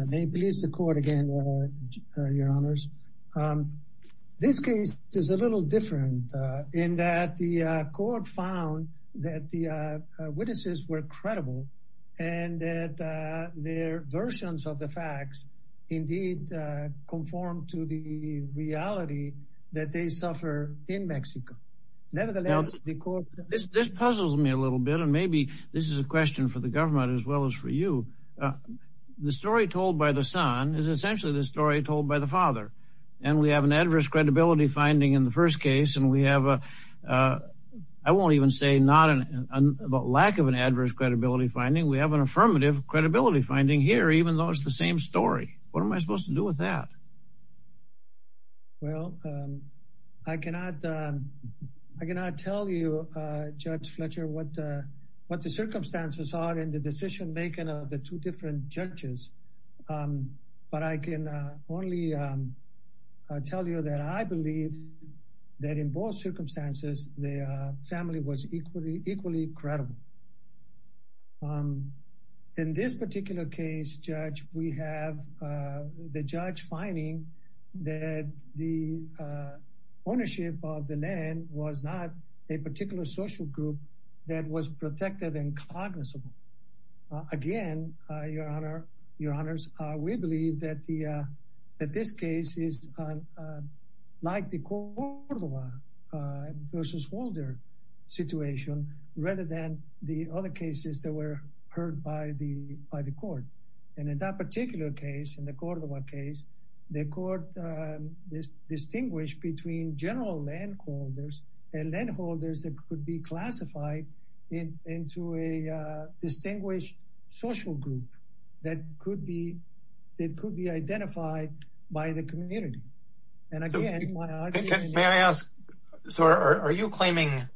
I may please the court again, your honors. This case is a little different in that the court found that the witnesses were credible and that their versions of the facts indeed conform to the reality that they suffer in Mexico. Nevertheless, the court... This puzzles me a little bit and maybe this is a question for the government as well as for you. The story told by the son is essentially the story told by the father and we have an adverse credibility finding in the first case and we have a... I won't even say not a lack of an adverse credibility finding. We have an affirmative credibility finding here even though it's the same story. What am I supposed to do with that? Well, I cannot tell you, Judge Fletcher, what the circumstances are in the decision-making of the two different judges, but I can only tell you that I believe that in both circumstances, the family was equally credible. In this particular case, Judge, we have the judge finding that the ownership of the land was not a particular social group that was protected and cognizable. Again, your honors, we believe that this case is like the Cordova versus Holder situation rather than the other cases that were heard by the court. And in that particular case, in the Cordova case, the court distinguished between general land holders and land holders that could be classified into a distinguished social group that could be identified by the community. May I ask, so are you claiming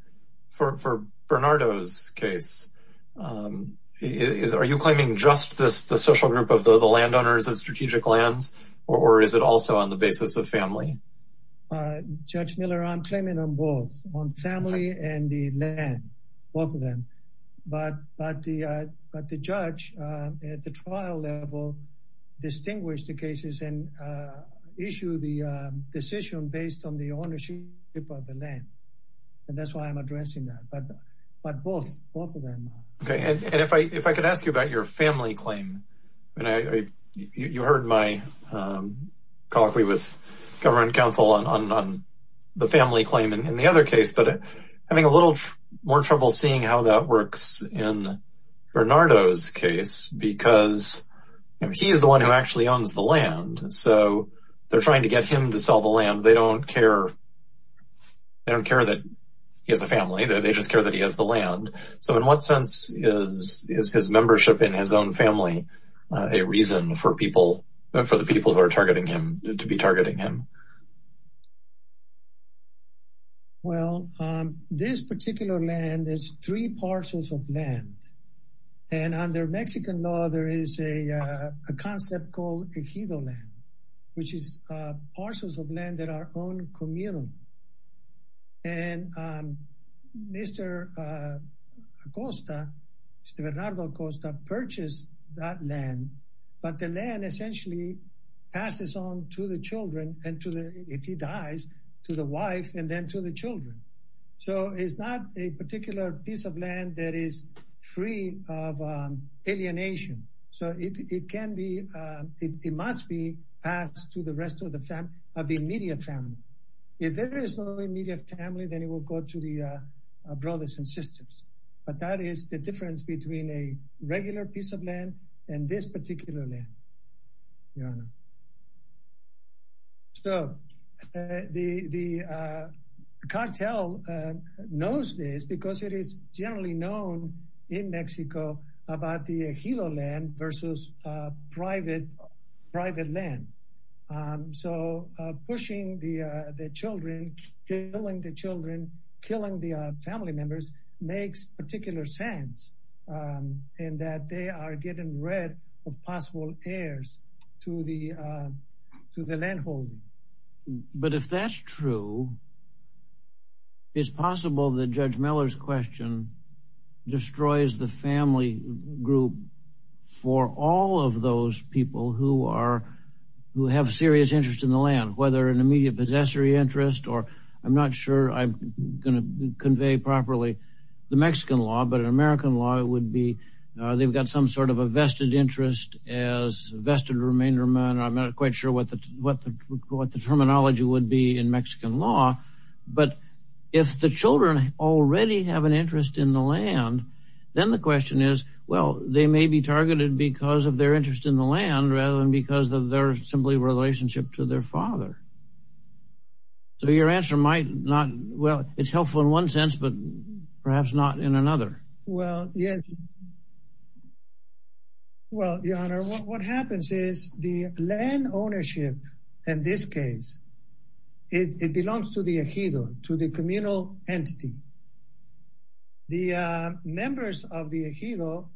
for Bernardo's case, are you claiming just the social group of the landowners of strategic lands, or is it also on the basis of family? Judge Miller, I'm claiming on both, on family and the land, both of them. But the judge at the trial level distinguished the cases and issued the decision based on the ownership of the land, and that's why I'm addressing that. But both of them. Okay. And if I could ask you about your family claim. You heard my colloquy with government counsel on the family claim in the other case, but having a little more trouble seeing how that works in Bernardo's case, because he is the one who actually owns the land. So they're trying to get him to sell the land. They don't care that he has a family, they just care that he has the land. So in what sense is his membership in his own family a reason for the people who are targeting him to be targeting him? Well, this particular land is three parcels of land. And under Mexican law, there is a concept called ejido land, which is parcels of land that are own communal. And Mr. Acosta, Mr. Bernardo Acosta purchased that land, but the land essentially passes on to the children and to the, if he dies, to the wife and then to the children. So it's not a particular piece of land that is free of alienation. So it can be, it must be passed to the immediate family. If there is no immediate family, then it will go to the brothers and sisters. But that is the difference between a regular piece of land and this particular land, Your Honor. So the cartel knows this because it is generally known in Mexico about the ejido land versus private land. So pushing the children, killing the children, killing the family members makes particular sense in that they are getting rid of possible heirs to the landholding. But if that's true, it's possible that Judge Miller's question destroys the family group for all of those people who are, who have serious interest in the land, whether an immediate possessory interest, or I'm not sure I'm going to convey properly the Mexican law, but in American law, it would be, they've got some sort of a vested interest as vested remainder men. I'm not quite sure what the terminology would be in Mexican law, but if the children already have an interest in the land, then the question is, well, they may be targeted because of their interest in the land rather than because of their simply relationship to their father. So your answer might not, well, it's helpful in one sense, but perhaps not in another. Well, yes. Well, Your Honor, what happens is the land ownership in this case, it belongs to the ejido, to the communal entity. The members of the ejido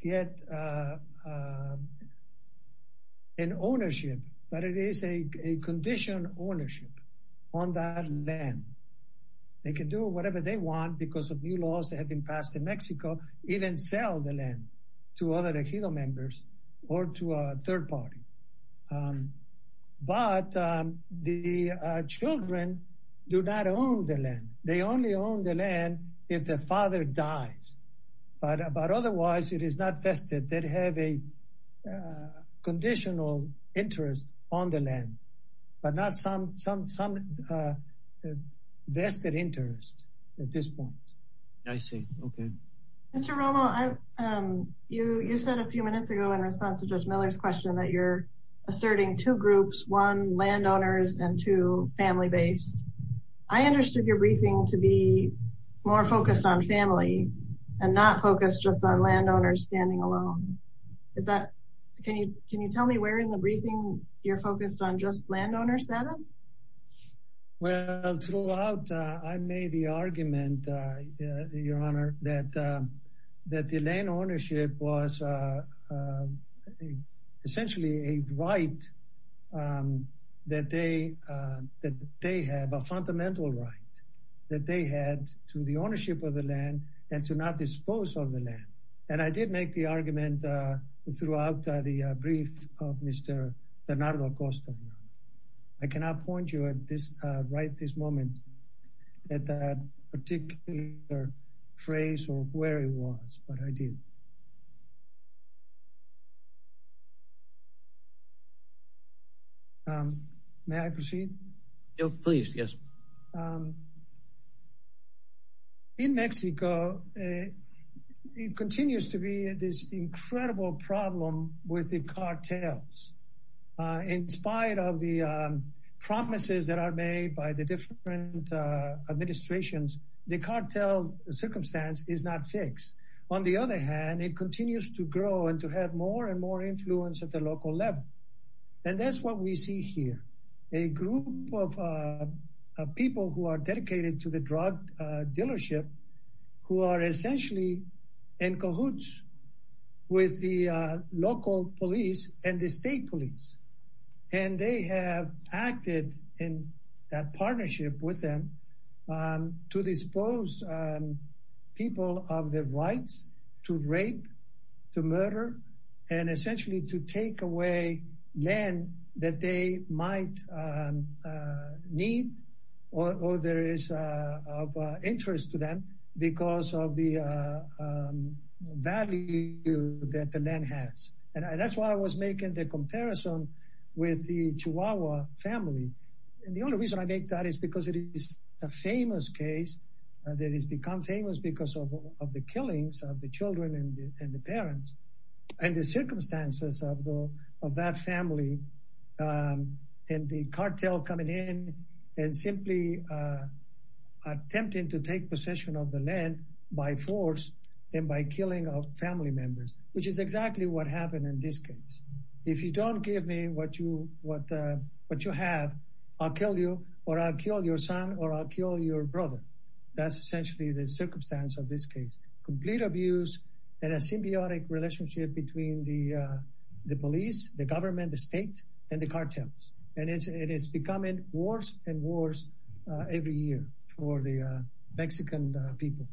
get an ownership, but it is a conditioned ownership on that land. They can do whatever they want because of new laws that have been passed in Mexico, even sell the land to other ejido members or to a third party. But the children do not own the land. They only own the land if the father dies, but otherwise it is not vested. They have a conditional interest on the land, but not some vested interest at this point. I see. Okay. Mr. Romo, you said a few minutes ago, in response to Judge Miller's question, that you're asserting two groups, one landowners and two family-based. I understood your briefing to be more focused on family and not focused just on landowners standing alone. Can you tell me where in the briefing you're focused on just landowner status? Well, throughout, I made the argument, Your Honor, that the land ownership was essentially a right that they have, a fundamental right that they had to the ownership of the land and to not dispose of the land. And I did make the argument throughout the brief of Mr. Bernardo Acosta. I cannot point you right at this moment at that particular phrase or where it was, but I did. May I proceed? Please, yes. In Mexico, it continues to be this incredible problem with the cartels. In spite of the promises that are made by the different administrations, the cartel circumstance is not fixed. On the other hand, it continues to grow and to have more and more influence at the local level. And that's what we see here, a group of people who are dedicated to the drug dealership who are essentially in cahoots with the local police and the state police. And they have acted in that partnership with them to dispose people of their rights to rape, to murder, and essentially to take away land that they might need or there is of interest to them because of the value that the land has. And that's why I was making the comparison with the Chihuahua family. And the only reason I make that is because it is a famous case that has become famous because of the killings of the children and the parents and the circumstances of that family and the cartel coming in and simply attempting to take possession of the land by force and by killing family members, which is exactly what happened in this case. If you don't give me what you have, I'll kill you or I'll kill your son or I'll kill your brother. That's essentially the circumstance of this case. Complete abuse and a symbiotic relationship between the police, the government, the state, and the cartels. And it is becoming worse and worse every year for the Mexican people.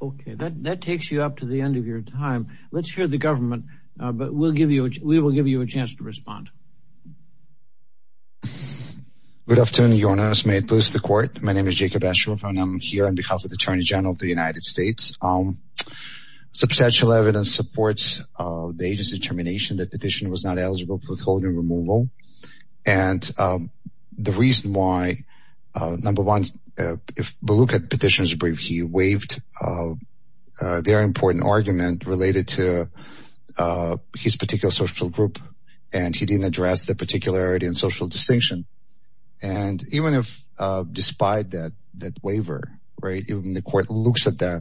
Okay, that takes you up to the end of your time. Let's hear the government, but we will give you a chance to respond. Good afternoon, Your Honor. May it please the court. My name is Jacob Asheroff and I'm here on behalf of the Attorney General of the United States. Substantial evidence supports the agency determination that petition was not eligible for withholding removal. And the reason why, number one, if we look at petitions brief, he waived their important argument related to his particular social group and he didn't address the particularity and social distinction. And even if despite that waiver, right, even the court looks at the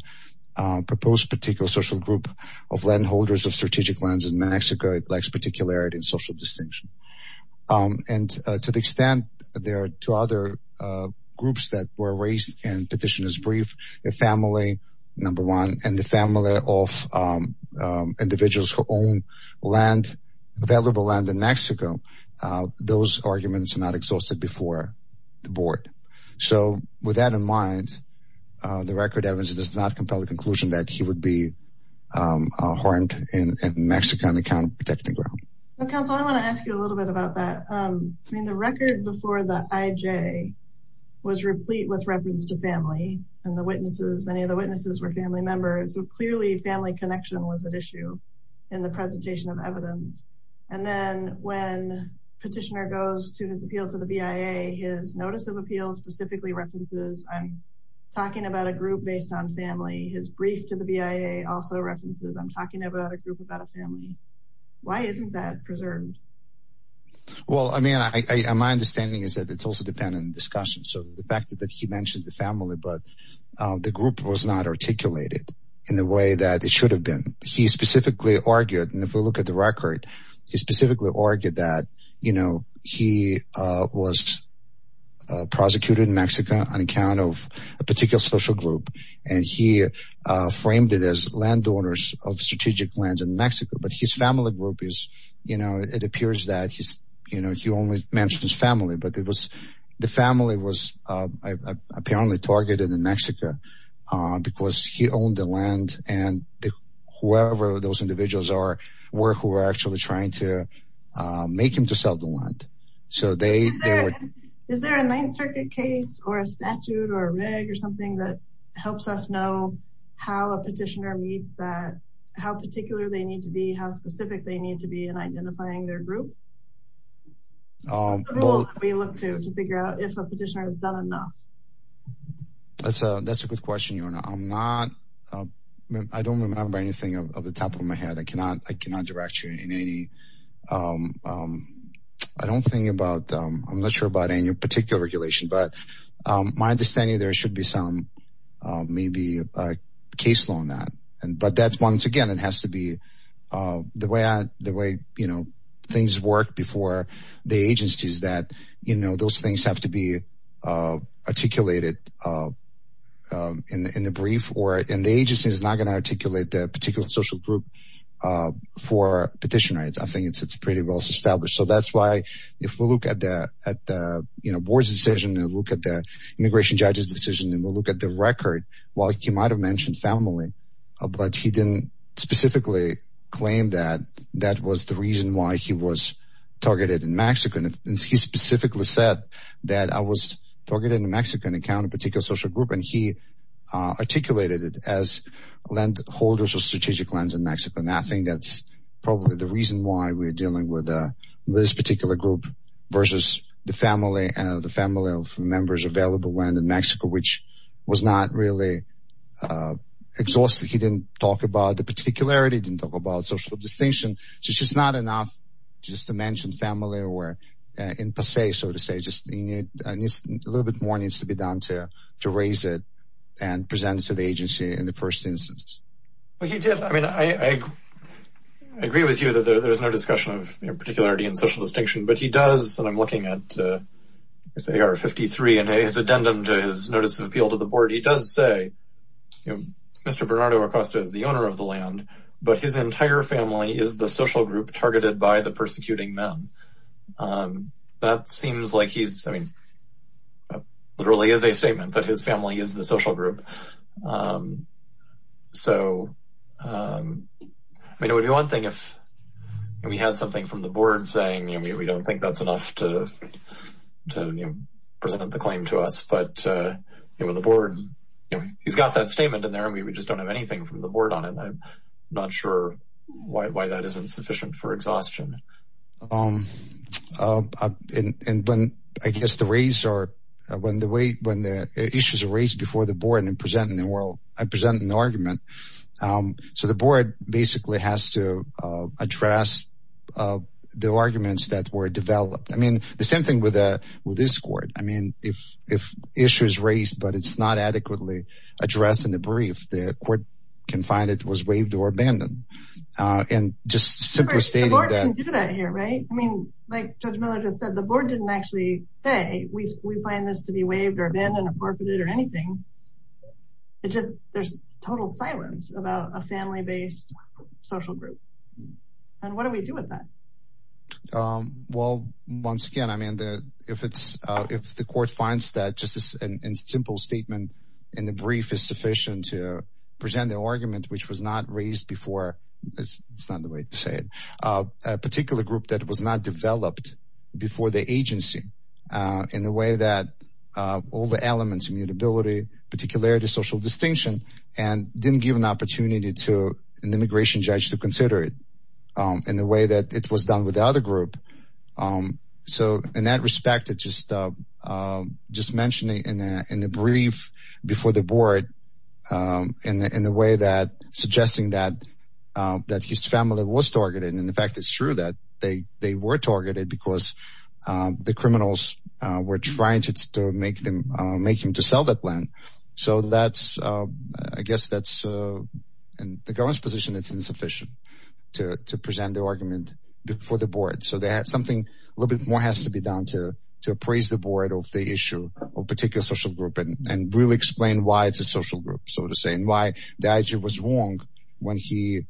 proposed particular social group of landholders of strategic lands in Mexico, it lacks particularity and social distinction. And to the extent there are two other groups that were raised in petitioners brief, the family, number one, and the family of individuals who own land, valuable land in Mexico, those arguments are not exhausted before the board. So with that in mind, the record evidence does not compel the conclusion that he would be harmed in Mexico on the count of protecting the ground. So counsel, I want to ask you a little bit about that. I mean, the record before the IJ was replete with reference to family and the witnesses, many of the witnesses were family members. So clearly family connection was at issue in the presentation of evidence. And then when petitioner goes to his appeal to the BIA, his notice of appeals specifically references, talking about a group based on family, his brief to the BIA also references, I'm talking about a group about a family. Why isn't that preserved? Well, I mean, my understanding is that it's also dependent on discussion. So the fact that he mentioned the family, but the group was not articulated in the way that it should have been. He specifically argued, and if we look at the record, he specifically argued that, you know, he was prosecuted in Mexico on account of a particular social group. And he framed it as landowners of strategic lands in Mexico, but his family group is, you know, it appears that he's, you know, he only mentions family, but it was, the family was apparently targeted in Mexico, because he owned the land and whoever those individuals are, were who were actually trying to make him to sell the land. So they- Is there a Ninth Circuit case or a statute or a reg or something that helps us know how a petitioner meets that, how particular they need to be, how specific they need to be in identifying their group? What's the rule that we look to, to figure out if a petitioner has done enough? That's a good question, Yona. I'm not, I don't remember anything of the top of my head. I cannot direct you in any, I don't think about, I'm not sure about any particular regulation, but my understanding there should be some, maybe a case law on that. But that's, once again, it has to be the way I, the way, you know, things work before the agencies that, you know, those things have to be articulated in the brief or, and the agency is not going to articulate the particular social group for petition rights. I think it's, it's pretty well established. So that's why if we look at the, at the, you know, board's decision and look at the immigration judge's decision and we'll look at the record, while he might've mentioned family, but he didn't specifically claim that that was the reason why he was targeted in Mexico. And he specifically said that I was targeted in Mexico and encountered a particular social group and he articulated it as land holders or strategic lands in Mexico. And I think that's probably the reason why we're dealing with this particular group versus the family and the family of members available when in Mexico, which was not really exhausted. He didn't talk about the particularity, didn't talk about social distinction. So it's just not enough just to mention family or in per se, so to say, just a little bit more needs to be done to raise it and present it to the agency and the person Well, he did. I mean, I agree with you that there's no discussion of particularity and social distinction, but he does. And I'm looking at his AR 53 and his addendum to his notice of appeal to the board. He does say, you know, Mr. Bernardo Acosta is the owner of the land, but his entire family is the social group targeted by the persecuting men. That seems like he's, I mean, literally is a statement that his family is the social group. So, I mean, it would be one thing if we had something from the board saying, you know, we don't think that's enough to present the claim to us. But, you know, the board, you know, he's got that statement in there and we just don't have anything from the board on it. I'm not sure why that isn't sufficient for exhaustion. Um, and when I guess the race or when the way when the issues are raised before the board and presenting the world, I present an argument. So the board basically has to address the arguments that were developed. I mean, the same thing with this court. I mean, if if issues raised, but it's not adequately addressed in the brief, the court can find it was waived or abandoned. And just simply stating that here. Right. I mean, like Judge Miller just said, the board didn't actually say we find this to be waived or abandoned or anything. It just there's total silence about a family based social group. And what do we do with that? Well, once again, I mean, if it's if the court finds that just a simple statement in the brief is sufficient to present the argument, which was not raised before, it's not the way to say it, a particular group that was not developed before the agency in the way that all the elements immutability, particularity, social distinction, and didn't give an opportunity to an immigration judge to consider it in the way that it was done with the other group. So in that respect, it just just mentioning in the brief before the board in the way that suggesting that that his family was targeted. And in fact, it's true that they they were targeted because the criminals were trying to make them make him to sell that land. So that's I guess that's in the government's position, it's insufficient to present the argument before the board. So they had something a little bit more has to be done to to appraise the board of the issue of particular social group and really explain why it's a social group, so to say, and why the IG was wrong when he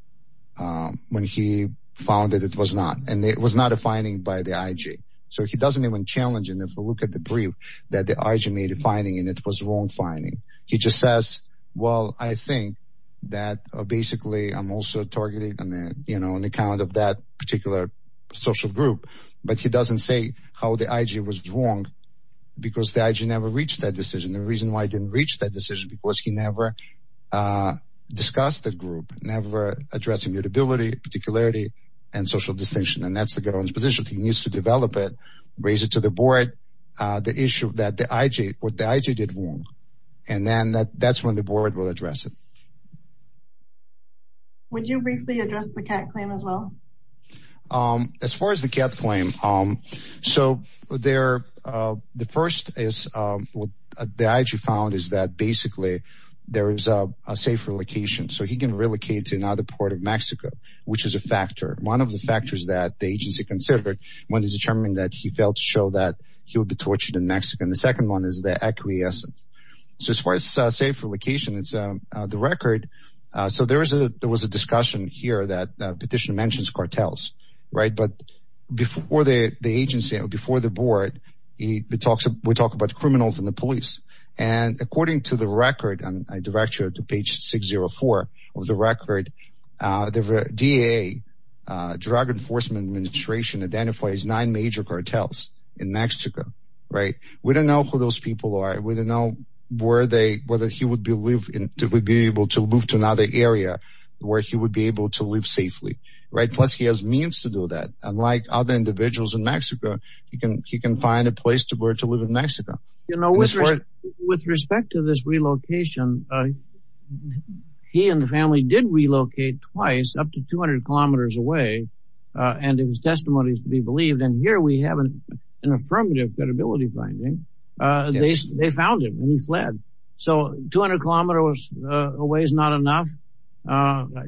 when he found that it was not and it was not a finding by the IG. So he doesn't even challenge and if we look at the brief that the IG made a finding, and it was wrong finding, he just says, Well, I think that basically, I'm also targeted. And then on the count of that particular social group, but he doesn't say how the IG was wrong. Because the IG never reached that decision. The reason why I didn't reach that decision because he never discussed the group never addressing mutability, particularity, and social distinction. And that's the government's position, he needs to develop it, raise it to the board, the issue that the IG what the IG did wrong. And then that that's when the board will address it. Would you briefly address the CAT claim as well? As far as the CAT claim, so there, the first is, what the IG found is that basically, there is a safe relocation, so he can relocate to another part of Mexico, which is a factor. One of the factors that the agency considered when he determined that he failed to show that he would be tortured in Mexico. And the second one is the acquiescence. So as far as safe relocation, it's the record. So there was a discussion here that petition mentions cartels, right? But before the agency, before the board, we talk about criminals and the police. And according to the record, and I direct you to page 604 of the record, the DEA, Drug Enforcement Administration identifies nine major cartels in Mexico, right? We don't know who those people are. We don't know where they, whether he would be able to move to another area where he would be able to live safely, right? Plus he has means to do that. Unlike other individuals in Mexico, he can find a place to where to live in Mexico. You know, with respect to this relocation, he and the family did relocate twice up to 200 kilometers away. And it was testimonies to be believed. And here we have an affirmative credibility finding. They found him and he fled. So 200 kilometers away is not enough.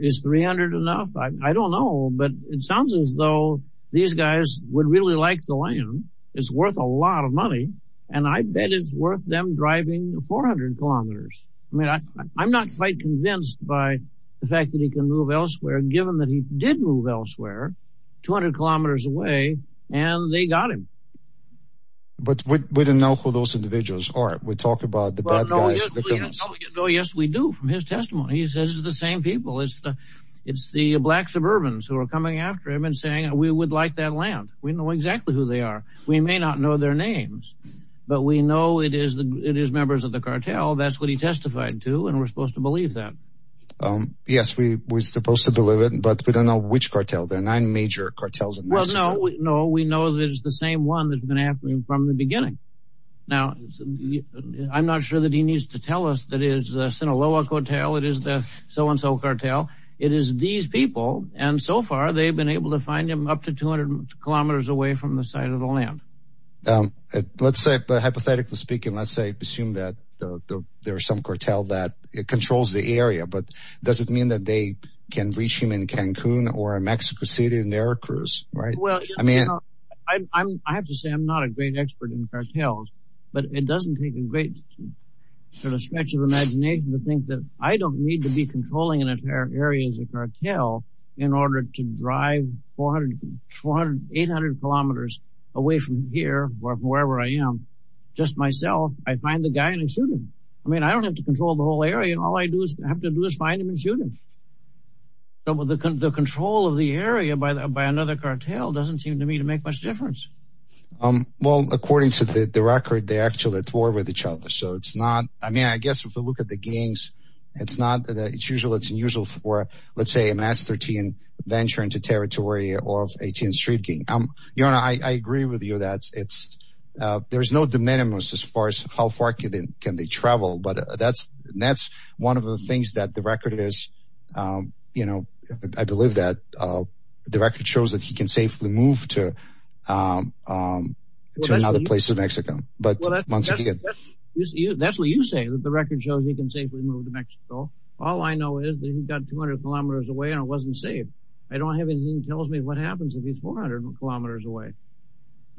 Is 300 enough? I don't know. But it sounds as though these guys would really like the land. It's worth a lot of money. And I bet it's worth them driving 400 kilometers. I mean, I'm not quite convinced by the fact that he can move elsewhere, given that he did move elsewhere 200 kilometers away and they got him. But we don't know who those individuals are. We talk about the bad guys. Oh, yes, we do. From his testimony, he says the same people. It's the black suburbans who are coming after him and saying we would like that land. We know exactly who they are. We may not know their names, but we know it is the it is members of the cartel. That's what he testified to. And we're supposed to believe that. Yes, we were supposed to believe but we don't know which cartel. There are nine major cartels. No, no. We know that it's the same one that's been after him from the beginning. Now, I'm not sure that he needs to tell us that is a Sinaloa cartel. It is the so-and-so cartel. It is these people. And so far, they've been able to find him up to 200 kilometers away from the site of the land. Let's say hypothetically speaking, let's say assume that there are some cartel that controls the area. But does it mean that they can reach him in Cancun or Mexico City in their cruise? Right. Well, I mean, I have to say I'm not a great expert in cartels, but it doesn't take a great sort of stretch of imagination to think that I don't need to be controlling an entire area as a cartel in order to drive 400, 800 kilometers away from here or wherever I am. Just myself. I find the guy and shoot him. I mean, I don't have to control the whole area. All I have to do is find him and shoot him. So the control of the area by another cartel doesn't seem to me to make much difference. Well, according to the record, they actually tore with each other. So it's not, I mean, I guess if we look at the gangs, it's not that it's usual. It's unusual for, let's say, a mass 13 venture into territory of 18th Street gang. I agree with you that there's no de minimis as far as how far can they travel. But that's that's one of the things that the record is. You know, I believe that the record shows that he can safely move to another place in Mexico. But that's what you say, that the record shows he can safely move to Mexico. All I know is that he got 200 kilometers away and it wasn't safe. I don't have anything tells me what happens if he's 400 kilometers away.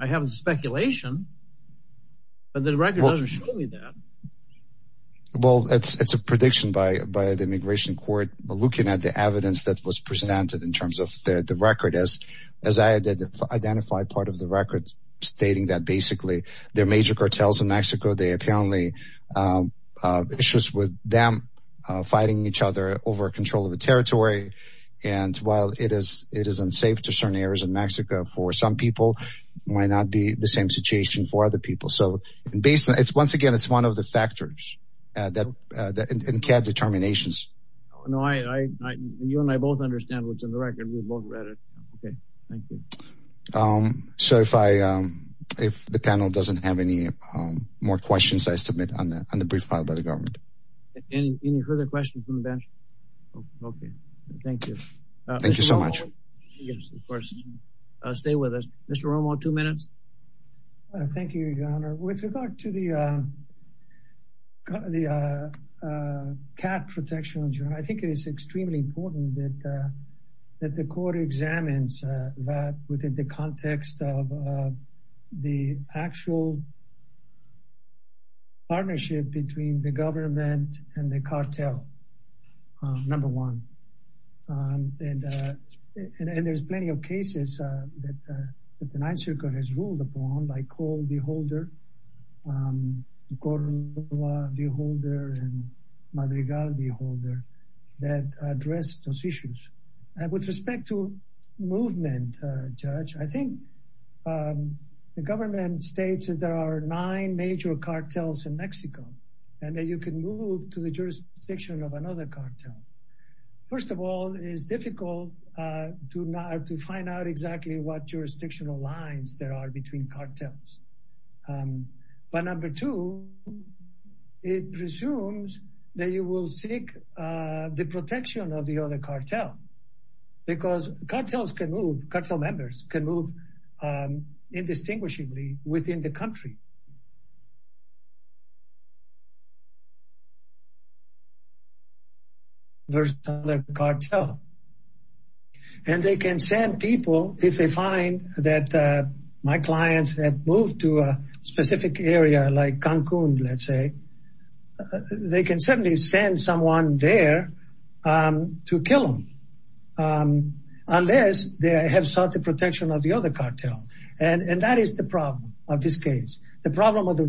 I have a speculation, but the record doesn't show me that. Well, it's a prediction by the immigration court looking at the evidence that was presented in terms of the record as I identified part of the record stating that basically their major cartels in Mexico, they apparently issues with them fighting each other over control of the territory. And while it is it is unsafe to certain areas in Mexico for some people, might not be the same situation for other people. So basically, it's once again, it's one of the factors that can have determinations. No, I you and I both understand what's in the record. We both read it. Okay, thank you. So if I if the panel doesn't have any more questions, I submit on the brief by the government. Any further questions from the bench? Okay, thank you. Thank you so much. Stay with us. Mr. Romo, two minutes. Thank you, Your Honor. With regard to the cap protections, I think it is extremely important that the court examines that within the context of the actual partnership between the government and the cartel, number one. And there's plenty of cases that the Ninth Circuit has ruled upon by call the holder, Gordon, the holder and the holder that address those issues. And with respect to movement, Judge, I think the government states that there are nine major cartels in Mexico, and that you can move to the jurisdiction of another cartel. First of all, it is difficult to not to find out exactly what jurisdictional lines there are between cartels. But number two, it presumes that you will seek the protection of the other cartel. Because cartels can move, cartel members can move indistinguishably within the country. And they can send people if they find that my clients have moved to a specific area like Cancun, let's say, they can certainly send someone there to kill them. Unless they have sought the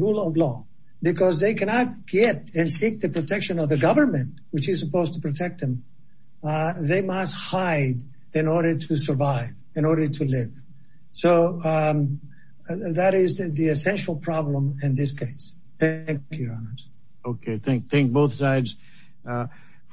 rule of law, because they cannot get and seek the protection of the government, which is supposed to protect them. They must hide in order to survive in order to live. So that is the essential problem in this case. Thank you, Your Honors. Okay, thank thank both sides.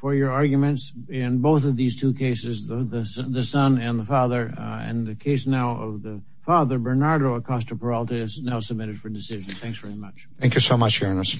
For your arguments in both of these two cases, the son and the father and the case now of the father Bernardo Acosta Peralta is now submitted for decision. Thanks very much. Thank you so much, Your Honors.